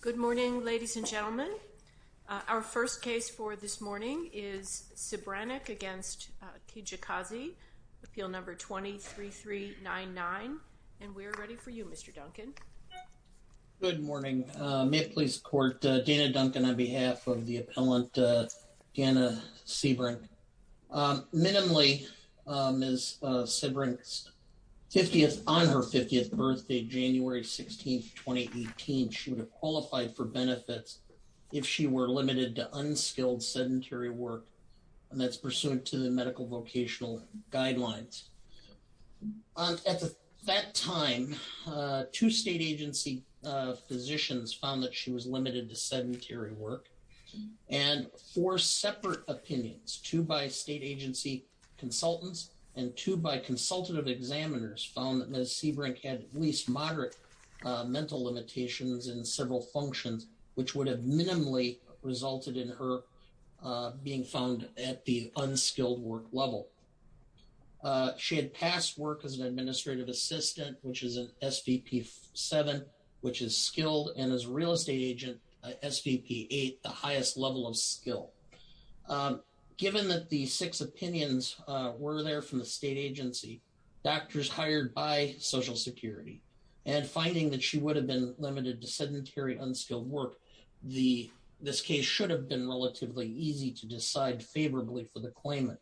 Good morning, ladies and gentlemen. Our first case for this morning is Sebranek against Kijakazi, appeal number 203399. And we're ready for you, Mr. Duncan. Good morning. May it please the court, Dana Duncan on behalf of the appellant, Dana Sebranek. Minimally, Ms. Sebranek's 50th, on her 50th birthday, January 16, 2018, she would have qualified for benefits if she were limited to unskilled sedentary work, and that's pursuant to the medical vocational guidelines. At that time, two state agency physicians found that she was limited to sedentary work. And four separate opinions, two by state agency consultants and two by consultative examiners found that Ms. Sebranek had at least moderate mental limitations in several functions, which would have minimally resulted in her being found at the unskilled work level. She had passed work as an administrative assistant, which is an SVP7, which is skilled, and as a real estate agent, SVP8, the highest level of skill. Given that the six opinions were there from the state agency, doctors hired by Social Security, and finding that she would have been limited to sedentary unskilled work, this case should have been relatively easy to decide favorably for the claimant.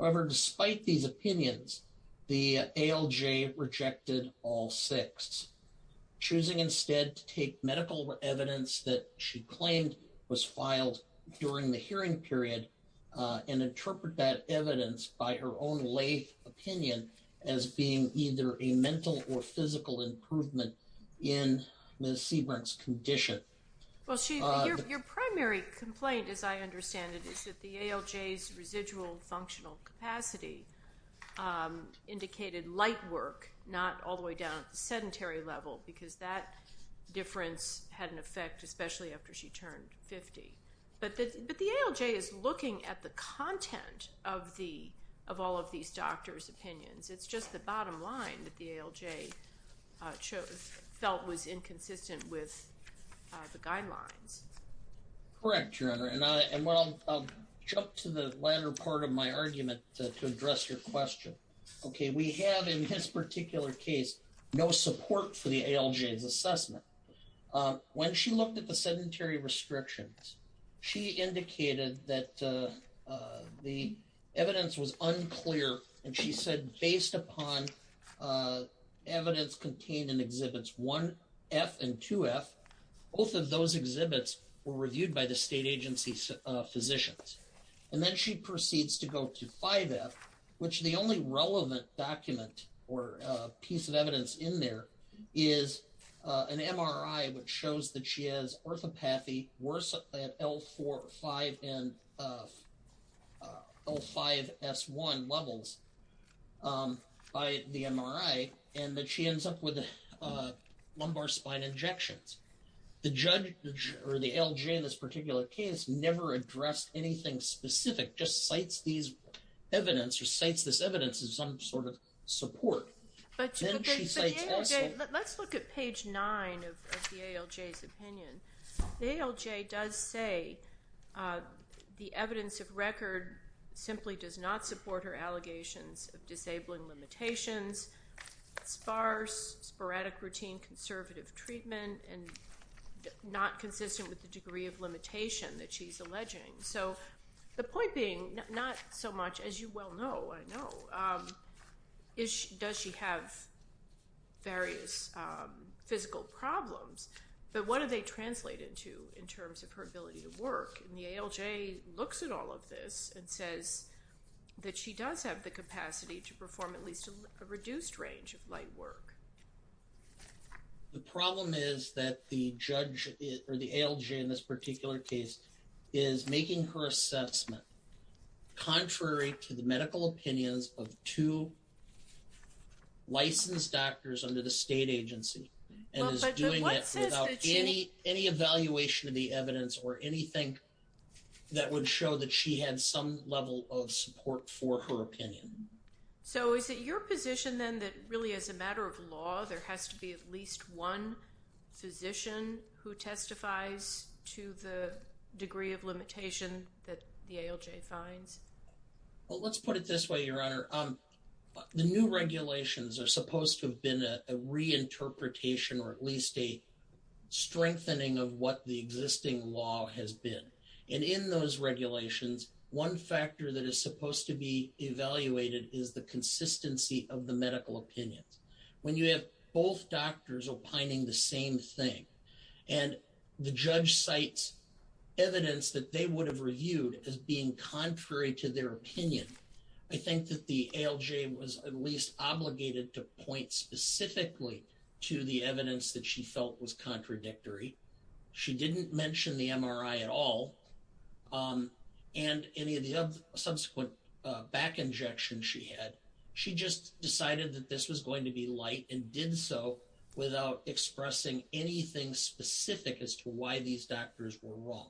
However, despite these opinions, the ALJ rejected all six, choosing instead to take medical evidence that she claimed was filed during the hearing period and interpret that evidence by her own lathe opinion as being either a mental or physical improvement in Ms. Sebranek's condition. Well, your primary complaint, as I understand it, is that the ALJ's residual functional capacity indicated light work, not all the way down at the sedentary level, because that difference had an effect, especially after she turned 50. But the ALJ is looking at the content of all of these opinions. It's just the bottom line that the ALJ felt was inconsistent with the guidelines. Correct, Your Honor, and I'll jump to the latter part of my argument to address your question. Okay, we have in this particular case no support for the ALJ's assessment. When she looked at the sedentary restrictions, she indicated that the evidence was unclear and she said based upon evidence contained in Exhibits 1F and 2F, both of those exhibits were reviewed by the state agency physicians. And then she proceeds to go to 5F, which the only relevant document or piece of evidence in there is an MRI which shows that she has orthopathy worse at L4-5 and L5-S1 levels by the MRI and that she ends up with lumbar spine injections. The judge or the ALJ in this particular case never addressed anything specific, just cites these evidence or cites this evidence as some sort of support. But let's look at page 9 of the ALJ's opinion. The ALJ does say the evidence of record simply does not support her allegations of disabling limitations, sparse sporadic routine conservative treatment, and not consistent with the degree of limitation that she's alleging. So the point being, not so much as you well know, I know, does she have various physical problems, but what do they translate into in terms of her ability to work? And the ALJ looks at all of this and says that she does have the capacity to perform at least a reduced range of light work. The problem is that the judge or the ALJ in this particular case is making her assessment contrary to the medical opinions of two licensed doctors under the state agency and is doing it without any evaluation of the evidence or anything that would show that she had some level of support for her opinion. So is it your position then that really as a matter of law there has to be at least one physician who testifies to the degree of limitation that the ALJ finds? Let's put it this way, Your Honor. The new regulations are supposed to have been a reinterpretation or at least a strengthening of what the existing law has been. And in those regulations, one factor that is supposed to be evaluated is the consistency of the medical opinions. When you have both doctors opining the same thing and the judge cites evidence that they would have reviewed as being contrary to their opinion, I think that the ALJ was at least obligated to point specifically to the evidence that she felt was contradictory. She didn't mention the MRI at all and any of the subsequent back injections she had. She just decided that this was going to be light and did so without expressing anything specific as to why these doctors were wrong.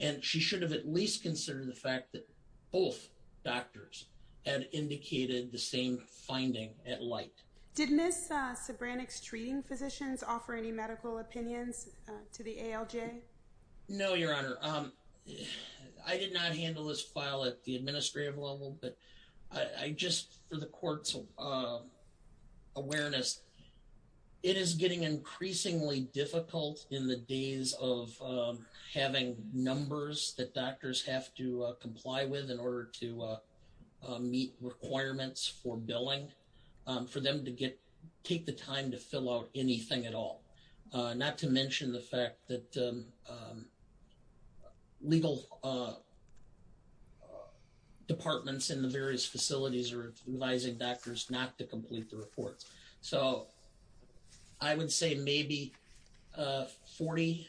And she should have at least considered the fact that both doctors had indicated the same finding at light. Did Ms. Sobranek's treating physicians offer any medical opinions to the ALJ? No, Your Honor. I did not handle this file at the administrative level, but just for the court's awareness, it is getting increasingly difficult in the days of having numbers that doctors have to comply with in order to meet requirements for billing for them to take the time to fill out anything at all, not to mention the fact that legal departments in the various facilities are advising doctors not to complete the report. So I would say maybe 40%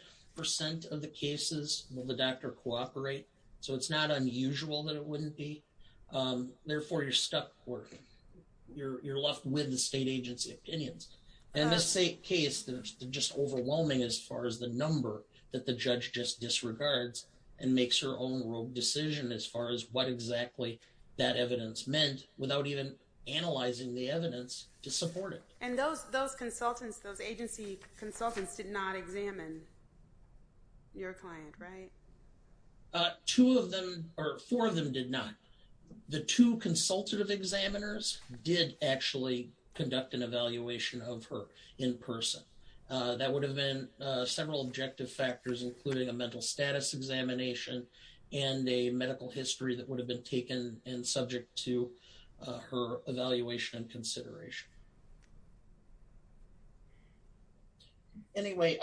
of the cases will the doctor cooperate. So it's not unusual that it you're left with the state agency opinions. In this case, it's just overwhelming as far as the number that the judge just disregards and makes her own decision as far as what exactly that evidence meant without even analyzing the evidence to support it. And those consultants, those agency consultants did not examine your client, right? Two of them or four of them did not. The two consultative examiners did actually conduct an evaluation of her in person. That would have been several objective factors, including a mental status examination and a medical history that would have been taken and subject to her evaluation and consideration. Anyway,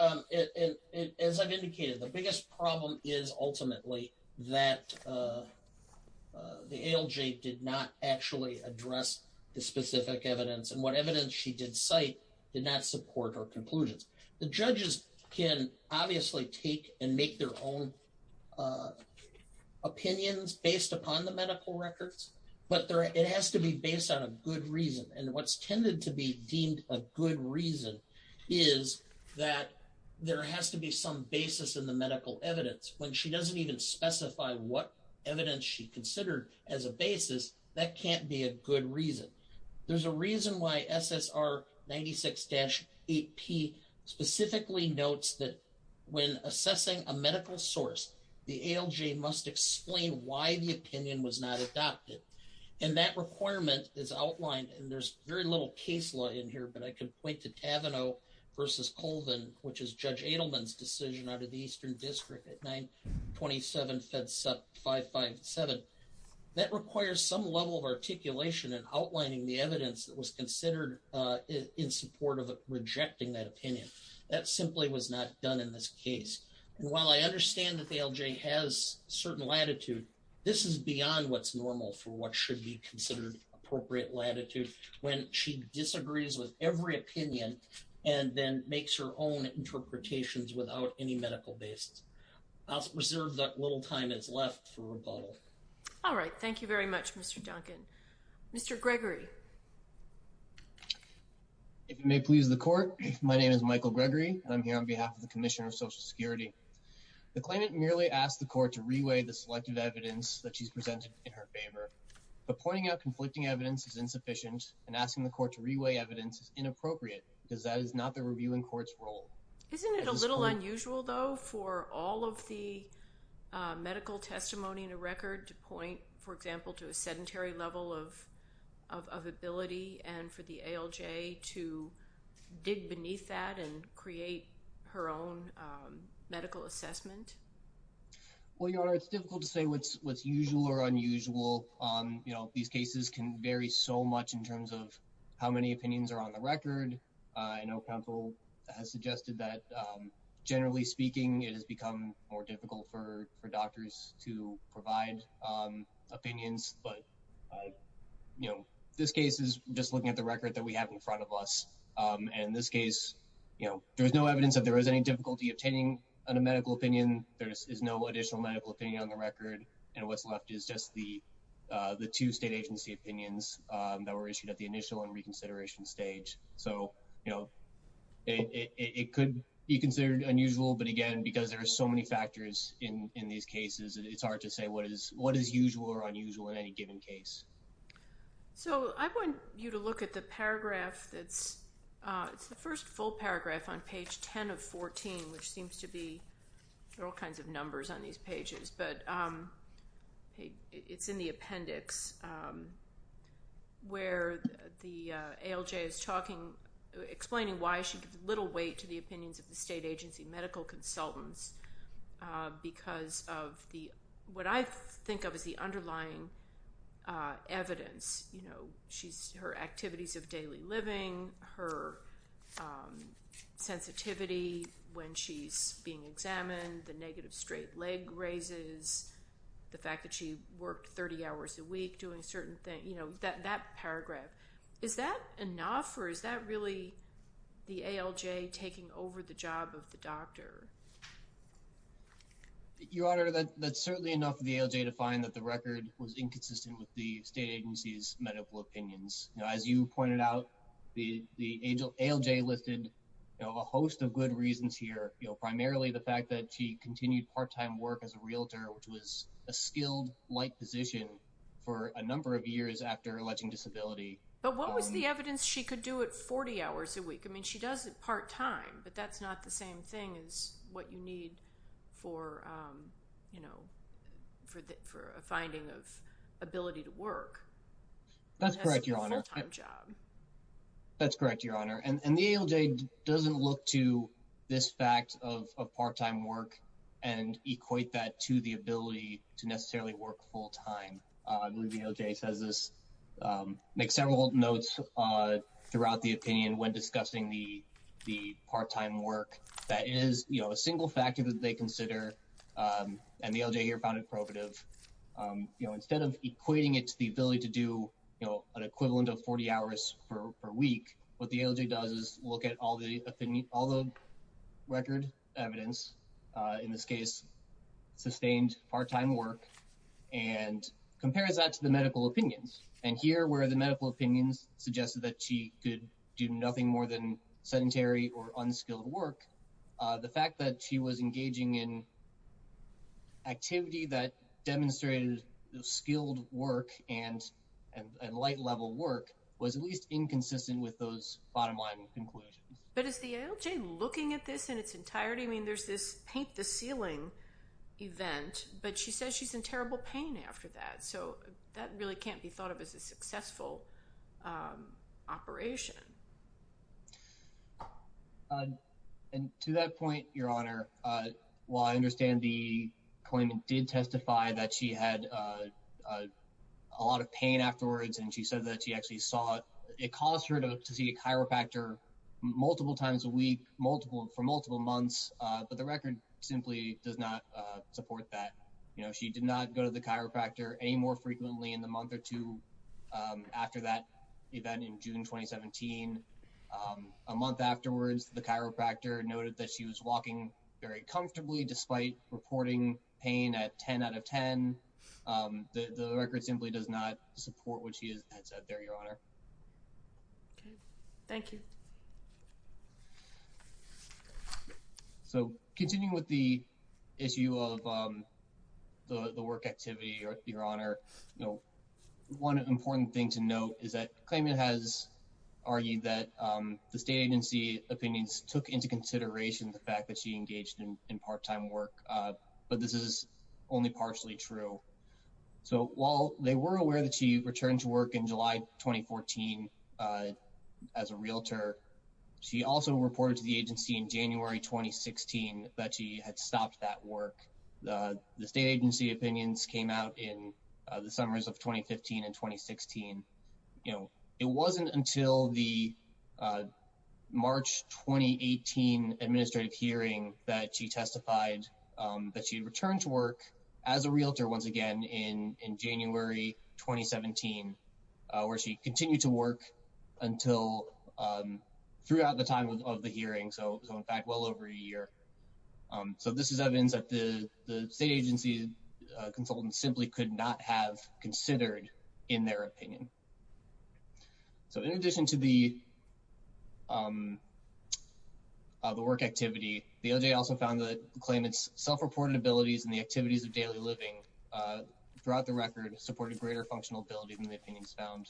as I've indicated, the biggest problem is ultimately that the ALJ did not actually address the specific evidence and what evidence she did cite did not support her conclusions. The judges can obviously take and make their own opinions based upon the medical records, but it has to be based on a good reason. And what's tended to be deemed a good reason is that there has to be some basis in the medical evidence. When she doesn't even specify what evidence she considered as a basis, that can't be a good reason. There's a reason why SSR 96-8P specifically notes that when assessing a medical source, the ALJ must explain why the opinion was not adopted. And that requirement is outlined, and there's very little case law in here, but I can point to Taveneau versus Colvin, which is Judge Edelman's decision out of the Eastern District at 927-557. That requires some level of articulation and outlining the evidence that was considered in support of rejecting that opinion. That simply was not done in this case. And while I understand that the ALJ has certain latitude, this is beyond what's normal for what should be considered appropriate latitude when she disagrees with every opinion and then makes her own interpretations without any medical basis. I'll reserve that little time that's left for rebuttal. All right. Thank you very much, Mr. Duncan. Mr. Gregory. If you may please the court, my name is Michael Gregory, and I'm here on behalf of the Commissioner of Social Security. The claimant merely asked the court to reweigh the selective evidence that she's presented in her favor, but pointing out conflicting evidence is insufficient and asking the court to reweigh evidence is inappropriate because that is not the reviewing court's role. Isn't it a little unusual though for all of the medical testimony in a record to point, for example, to a sedentary level of ability and for the ALJ to dig beneath that and create her own medical assessment? Well, Your Honor, it's difficult to say what's usual or unusual. These cases can vary so much in terms of how many opinions are on the record. I know counsel has suggested that generally speaking, it has become more difficult for doctors to provide opinions. But this case is just looking at the record that we have in front of us. And this case, you know, there was no evidence that there was any difficulty obtaining on a medical opinion. There is no additional medical opinion on the record. And what's left is just the two state agency opinions that were issued at the initial and reconsideration stage. So, you know, it could be considered unusual. But again, because there are so many factors in these cases, it's hard to say what is usual or unusual in any given case. So I want you to look at the paragraph that's, it's the first full paragraph on page 10 of 14, which seems to be, there are all kinds of numbers on these pages, but it's in the appendix where the ALJ is talking, explaining why she gives little weight to the opinions of the evidence. You know, she's, her activities of daily living, her sensitivity when she's being examined, the negative straight leg raises, the fact that she worked 30 hours a week doing certain things, you know, that paragraph. Is that enough or is that really the ALJ taking over the job of the doctor? Your Honor, that's certainly enough for the ALJ to find that the record was inconsistent with the state agency's medical opinions. You know, as you pointed out, the ALJ listed, you know, a host of good reasons here, you know, primarily the fact that she continued part-time work as a realtor, which was a skilled-like position for a number of years after alleging disability. But what was the evidence she could do it 40 hours a week? I mean, she does it part-time, but that's not the same thing as what you need for, you know, for a finding of ability to work. That's correct, Your Honor. That's correct, Your Honor. And the ALJ doesn't look to this fact of part-time work and equate that to the ability to necessarily work full-time. I believe the ALJ says this, make several notes throughout the opinion when discussing the part-time work. That is, you know, a single factor that they consider, and the ALJ here found it probative. You know, instead of equating it to the ability to do, you know, an equivalent of 40 hours per week, what the ALJ does is look at all the record evidence, in this case, sustained part-time work, and compares that to the medical opinions. And here, where the medical opinions suggested that she could do nothing more than sedentary or unskilled work, the fact that she was engaging in activity that demonstrated skilled work and light-level work was at least inconsistent with those bottom-line conclusions. But is the ALJ looking at this in its entirety? I mean, there's this paint-the-ceiling event, but she says she's in terrible pain after that, so that really can't be thought of as a successful operation. And to that point, Your Honor, while I understand the claimant did testify that she had a lot of pain afterwards and she said that she actually saw it, it caused her to see a chiropractor multiple times a week for multiple months, but the record simply does not support that. You know, she did not go to the chiropractor any more frequently in the month or two after that event in June 2017. A month afterwards, the chiropractor noted that she was walking very comfortably despite reporting pain at 10 out of 10. The record simply does not support what she had said there, Your Honor. Okay, thank you. So, continuing with the issue of the work activity, Your Honor, you know, one important thing to note is that the claimant has argued that the state agency opinions took into consideration the fact that she engaged in part-time work, but this is only partially true. So, while they were aware that she returned to work in July 2014 as a realtor, she also reported to the agency in January 2016 that she had stopped that work. The state agency opinions came out in the summers of 2015 and 2016. You know, it wasn't until the March 2018 administrative hearing that she testified that she returned to work as a realtor once again in January 2017, where she continued to work until throughout the time of the hearing. So, in fact, well over a year. So, this is evidence that the state agency consultant simply could not have considered in their opinion. So, in addition to the work activity, the LJ also found that the claimant's self-reported abilities and the activities of daily living throughout the record supported greater functional ability than the opinions found.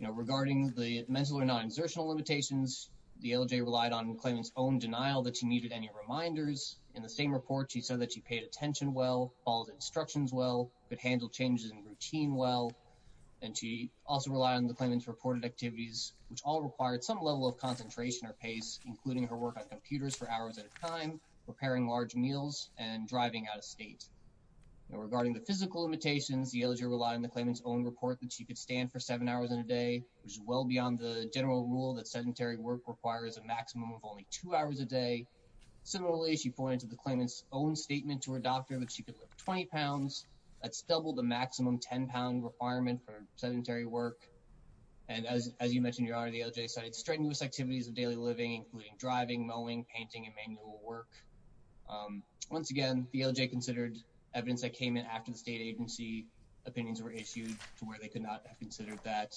You know, regarding the mental or non-insertional limitations, the LJ relied on the claimant's own denial that she needed any reminders. In the same report, she said that she paid attention well, followed instructions well, could handle changes in routine well, and she also relied on the claimant's reported activities, which all required some level of concentration or pace, including her work on computers for hours at a time, preparing large meals, and driving out of state. Now, regarding the physical limitations, the LJ relied on the claimant's own report that she could stand for seven hours in a day, which is well beyond the general rule that sedentary work requires a maximum of only two hours a day. Similarly, she pointed to the claimant's own statement to her doctor that she could lift 20 pounds. That's double the maximum 10-pound requirement for sedentary work, and as you mentioned, Your Honor, the LJ cited strenuous activities of daily living, including driving, mowing, painting, and manual work. Once again, the LJ considered evidence that came in after the state agency opinions were issued to where they could not have considered that.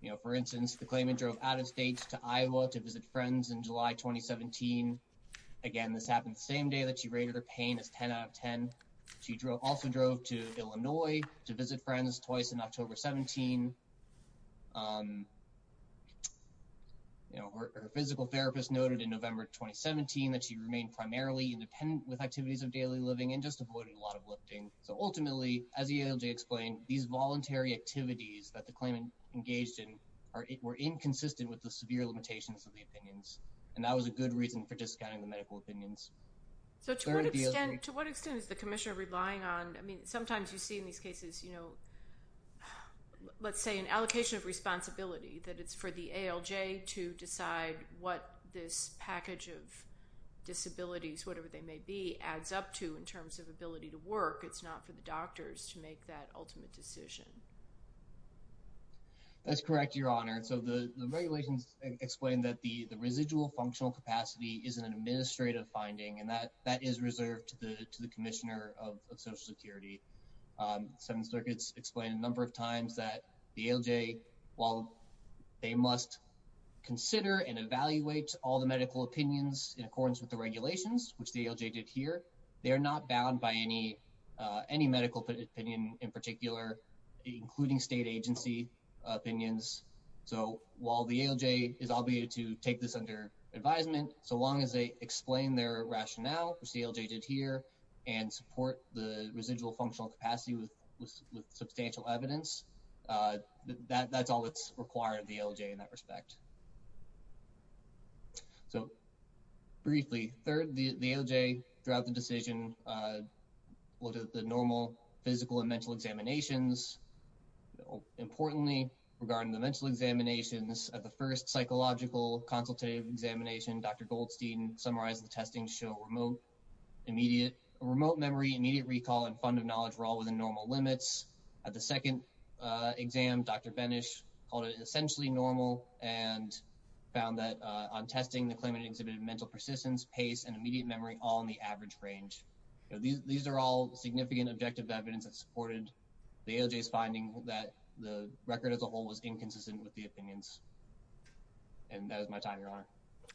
You know, for instance, the claimant drove out of state to Iowa to visit friends in July 2017. Again, this happened the same time the claimant drove to Illinois to visit friends twice in October 17. You know, her physical therapist noted in November 2017 that she remained primarily independent with activities of daily living and just avoided a lot of lifting. So ultimately, as the LJ explained, these voluntary activities that the claimant engaged in were inconsistent with the severe limitations of the opinions, and that was a good reason for discounting the medical opinions. So to what extent is the commissioner relying on, I mean, sometimes you see in these cases, you know, let's say an allocation of responsibility that it's for the ALJ to decide what this package of disabilities, whatever they may be, adds up to in terms of ability to work. It's not for the doctors to make that ultimate decision. That's correct, Your Honor. So the regulations explain that the residual functional capacity is an administrative finding, and that is reserved to the commissioner of Social Security. Seventh Circuit's explained a number of times that the ALJ, while they must consider and evaluate all the medical opinions in accordance with the regulations, which the ALJ did here, they are not bound by any medical opinion in particular, including state agency opinions. So while the ALJ is obligated to take this under advisement, so long as they explain their rationale, which the ALJ did here, and support the residual functional capacity with substantial evidence, that's all that's required of the ALJ in that respect. So, briefly, the ALJ, throughout the decision, looked at the normal physical and mental examinations. Importantly, regarding the mental examinations, at the first psychological consultative examination, Dr. Goldstein summarized the testing to show remote memory, immediate recall, and fund of knowledge were all within normal limits. At the second exam, Dr. Benish called it essentially normal and found that on testing, the claimant exhibited mental persistence, pace, and immediate memory all in the average range. These are all significant objective evidence that supported the ALJ's finding that the record as a whole was inconsistent with the opinions. And that is my time, Your Honor.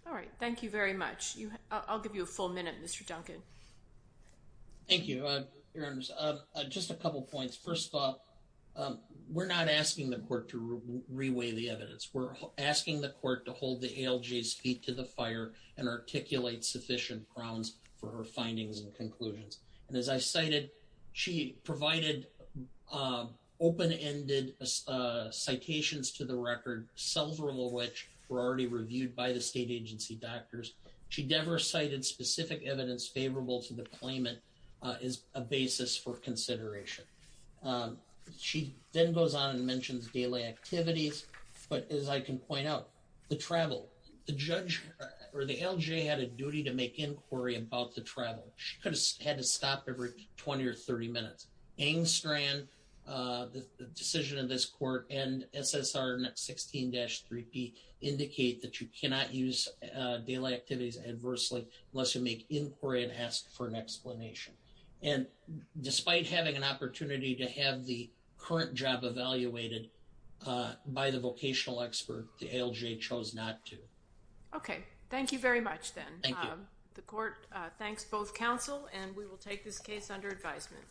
All right. Thank you very much. I'll give you a full minute, Mr. Duncan. Thank you, Your Honors. Just a couple points. First off, we're not asking the court to reweigh the evidence. We're asking the court to hold the ALJ's feet to the fire and articulate sufficient grounds for her findings and conclusions. And as I cited, she provided open-ended citations to the record, several of which were already reviewed by the state agency doctors. She never cited specific evidence favorable to the claimant as a basis for consideration. She then goes on and mentions daily activities. But as I can point out, the travel, the judge or the ALJ had a duty to make inquiry about the travel. She had to stop every 20 or 30 minutes. Angstrand, the decision of this court, and SSR 16-3B indicate that you cannot use daily activities adversely unless you make inquiry and ask for an explanation. And despite having an opportunity to have the current job evaluated by the vocational expert, the ALJ chose not to. Okay. Thank you very much then. Thank you. The court thanks both counsel and we will take this case under advisement.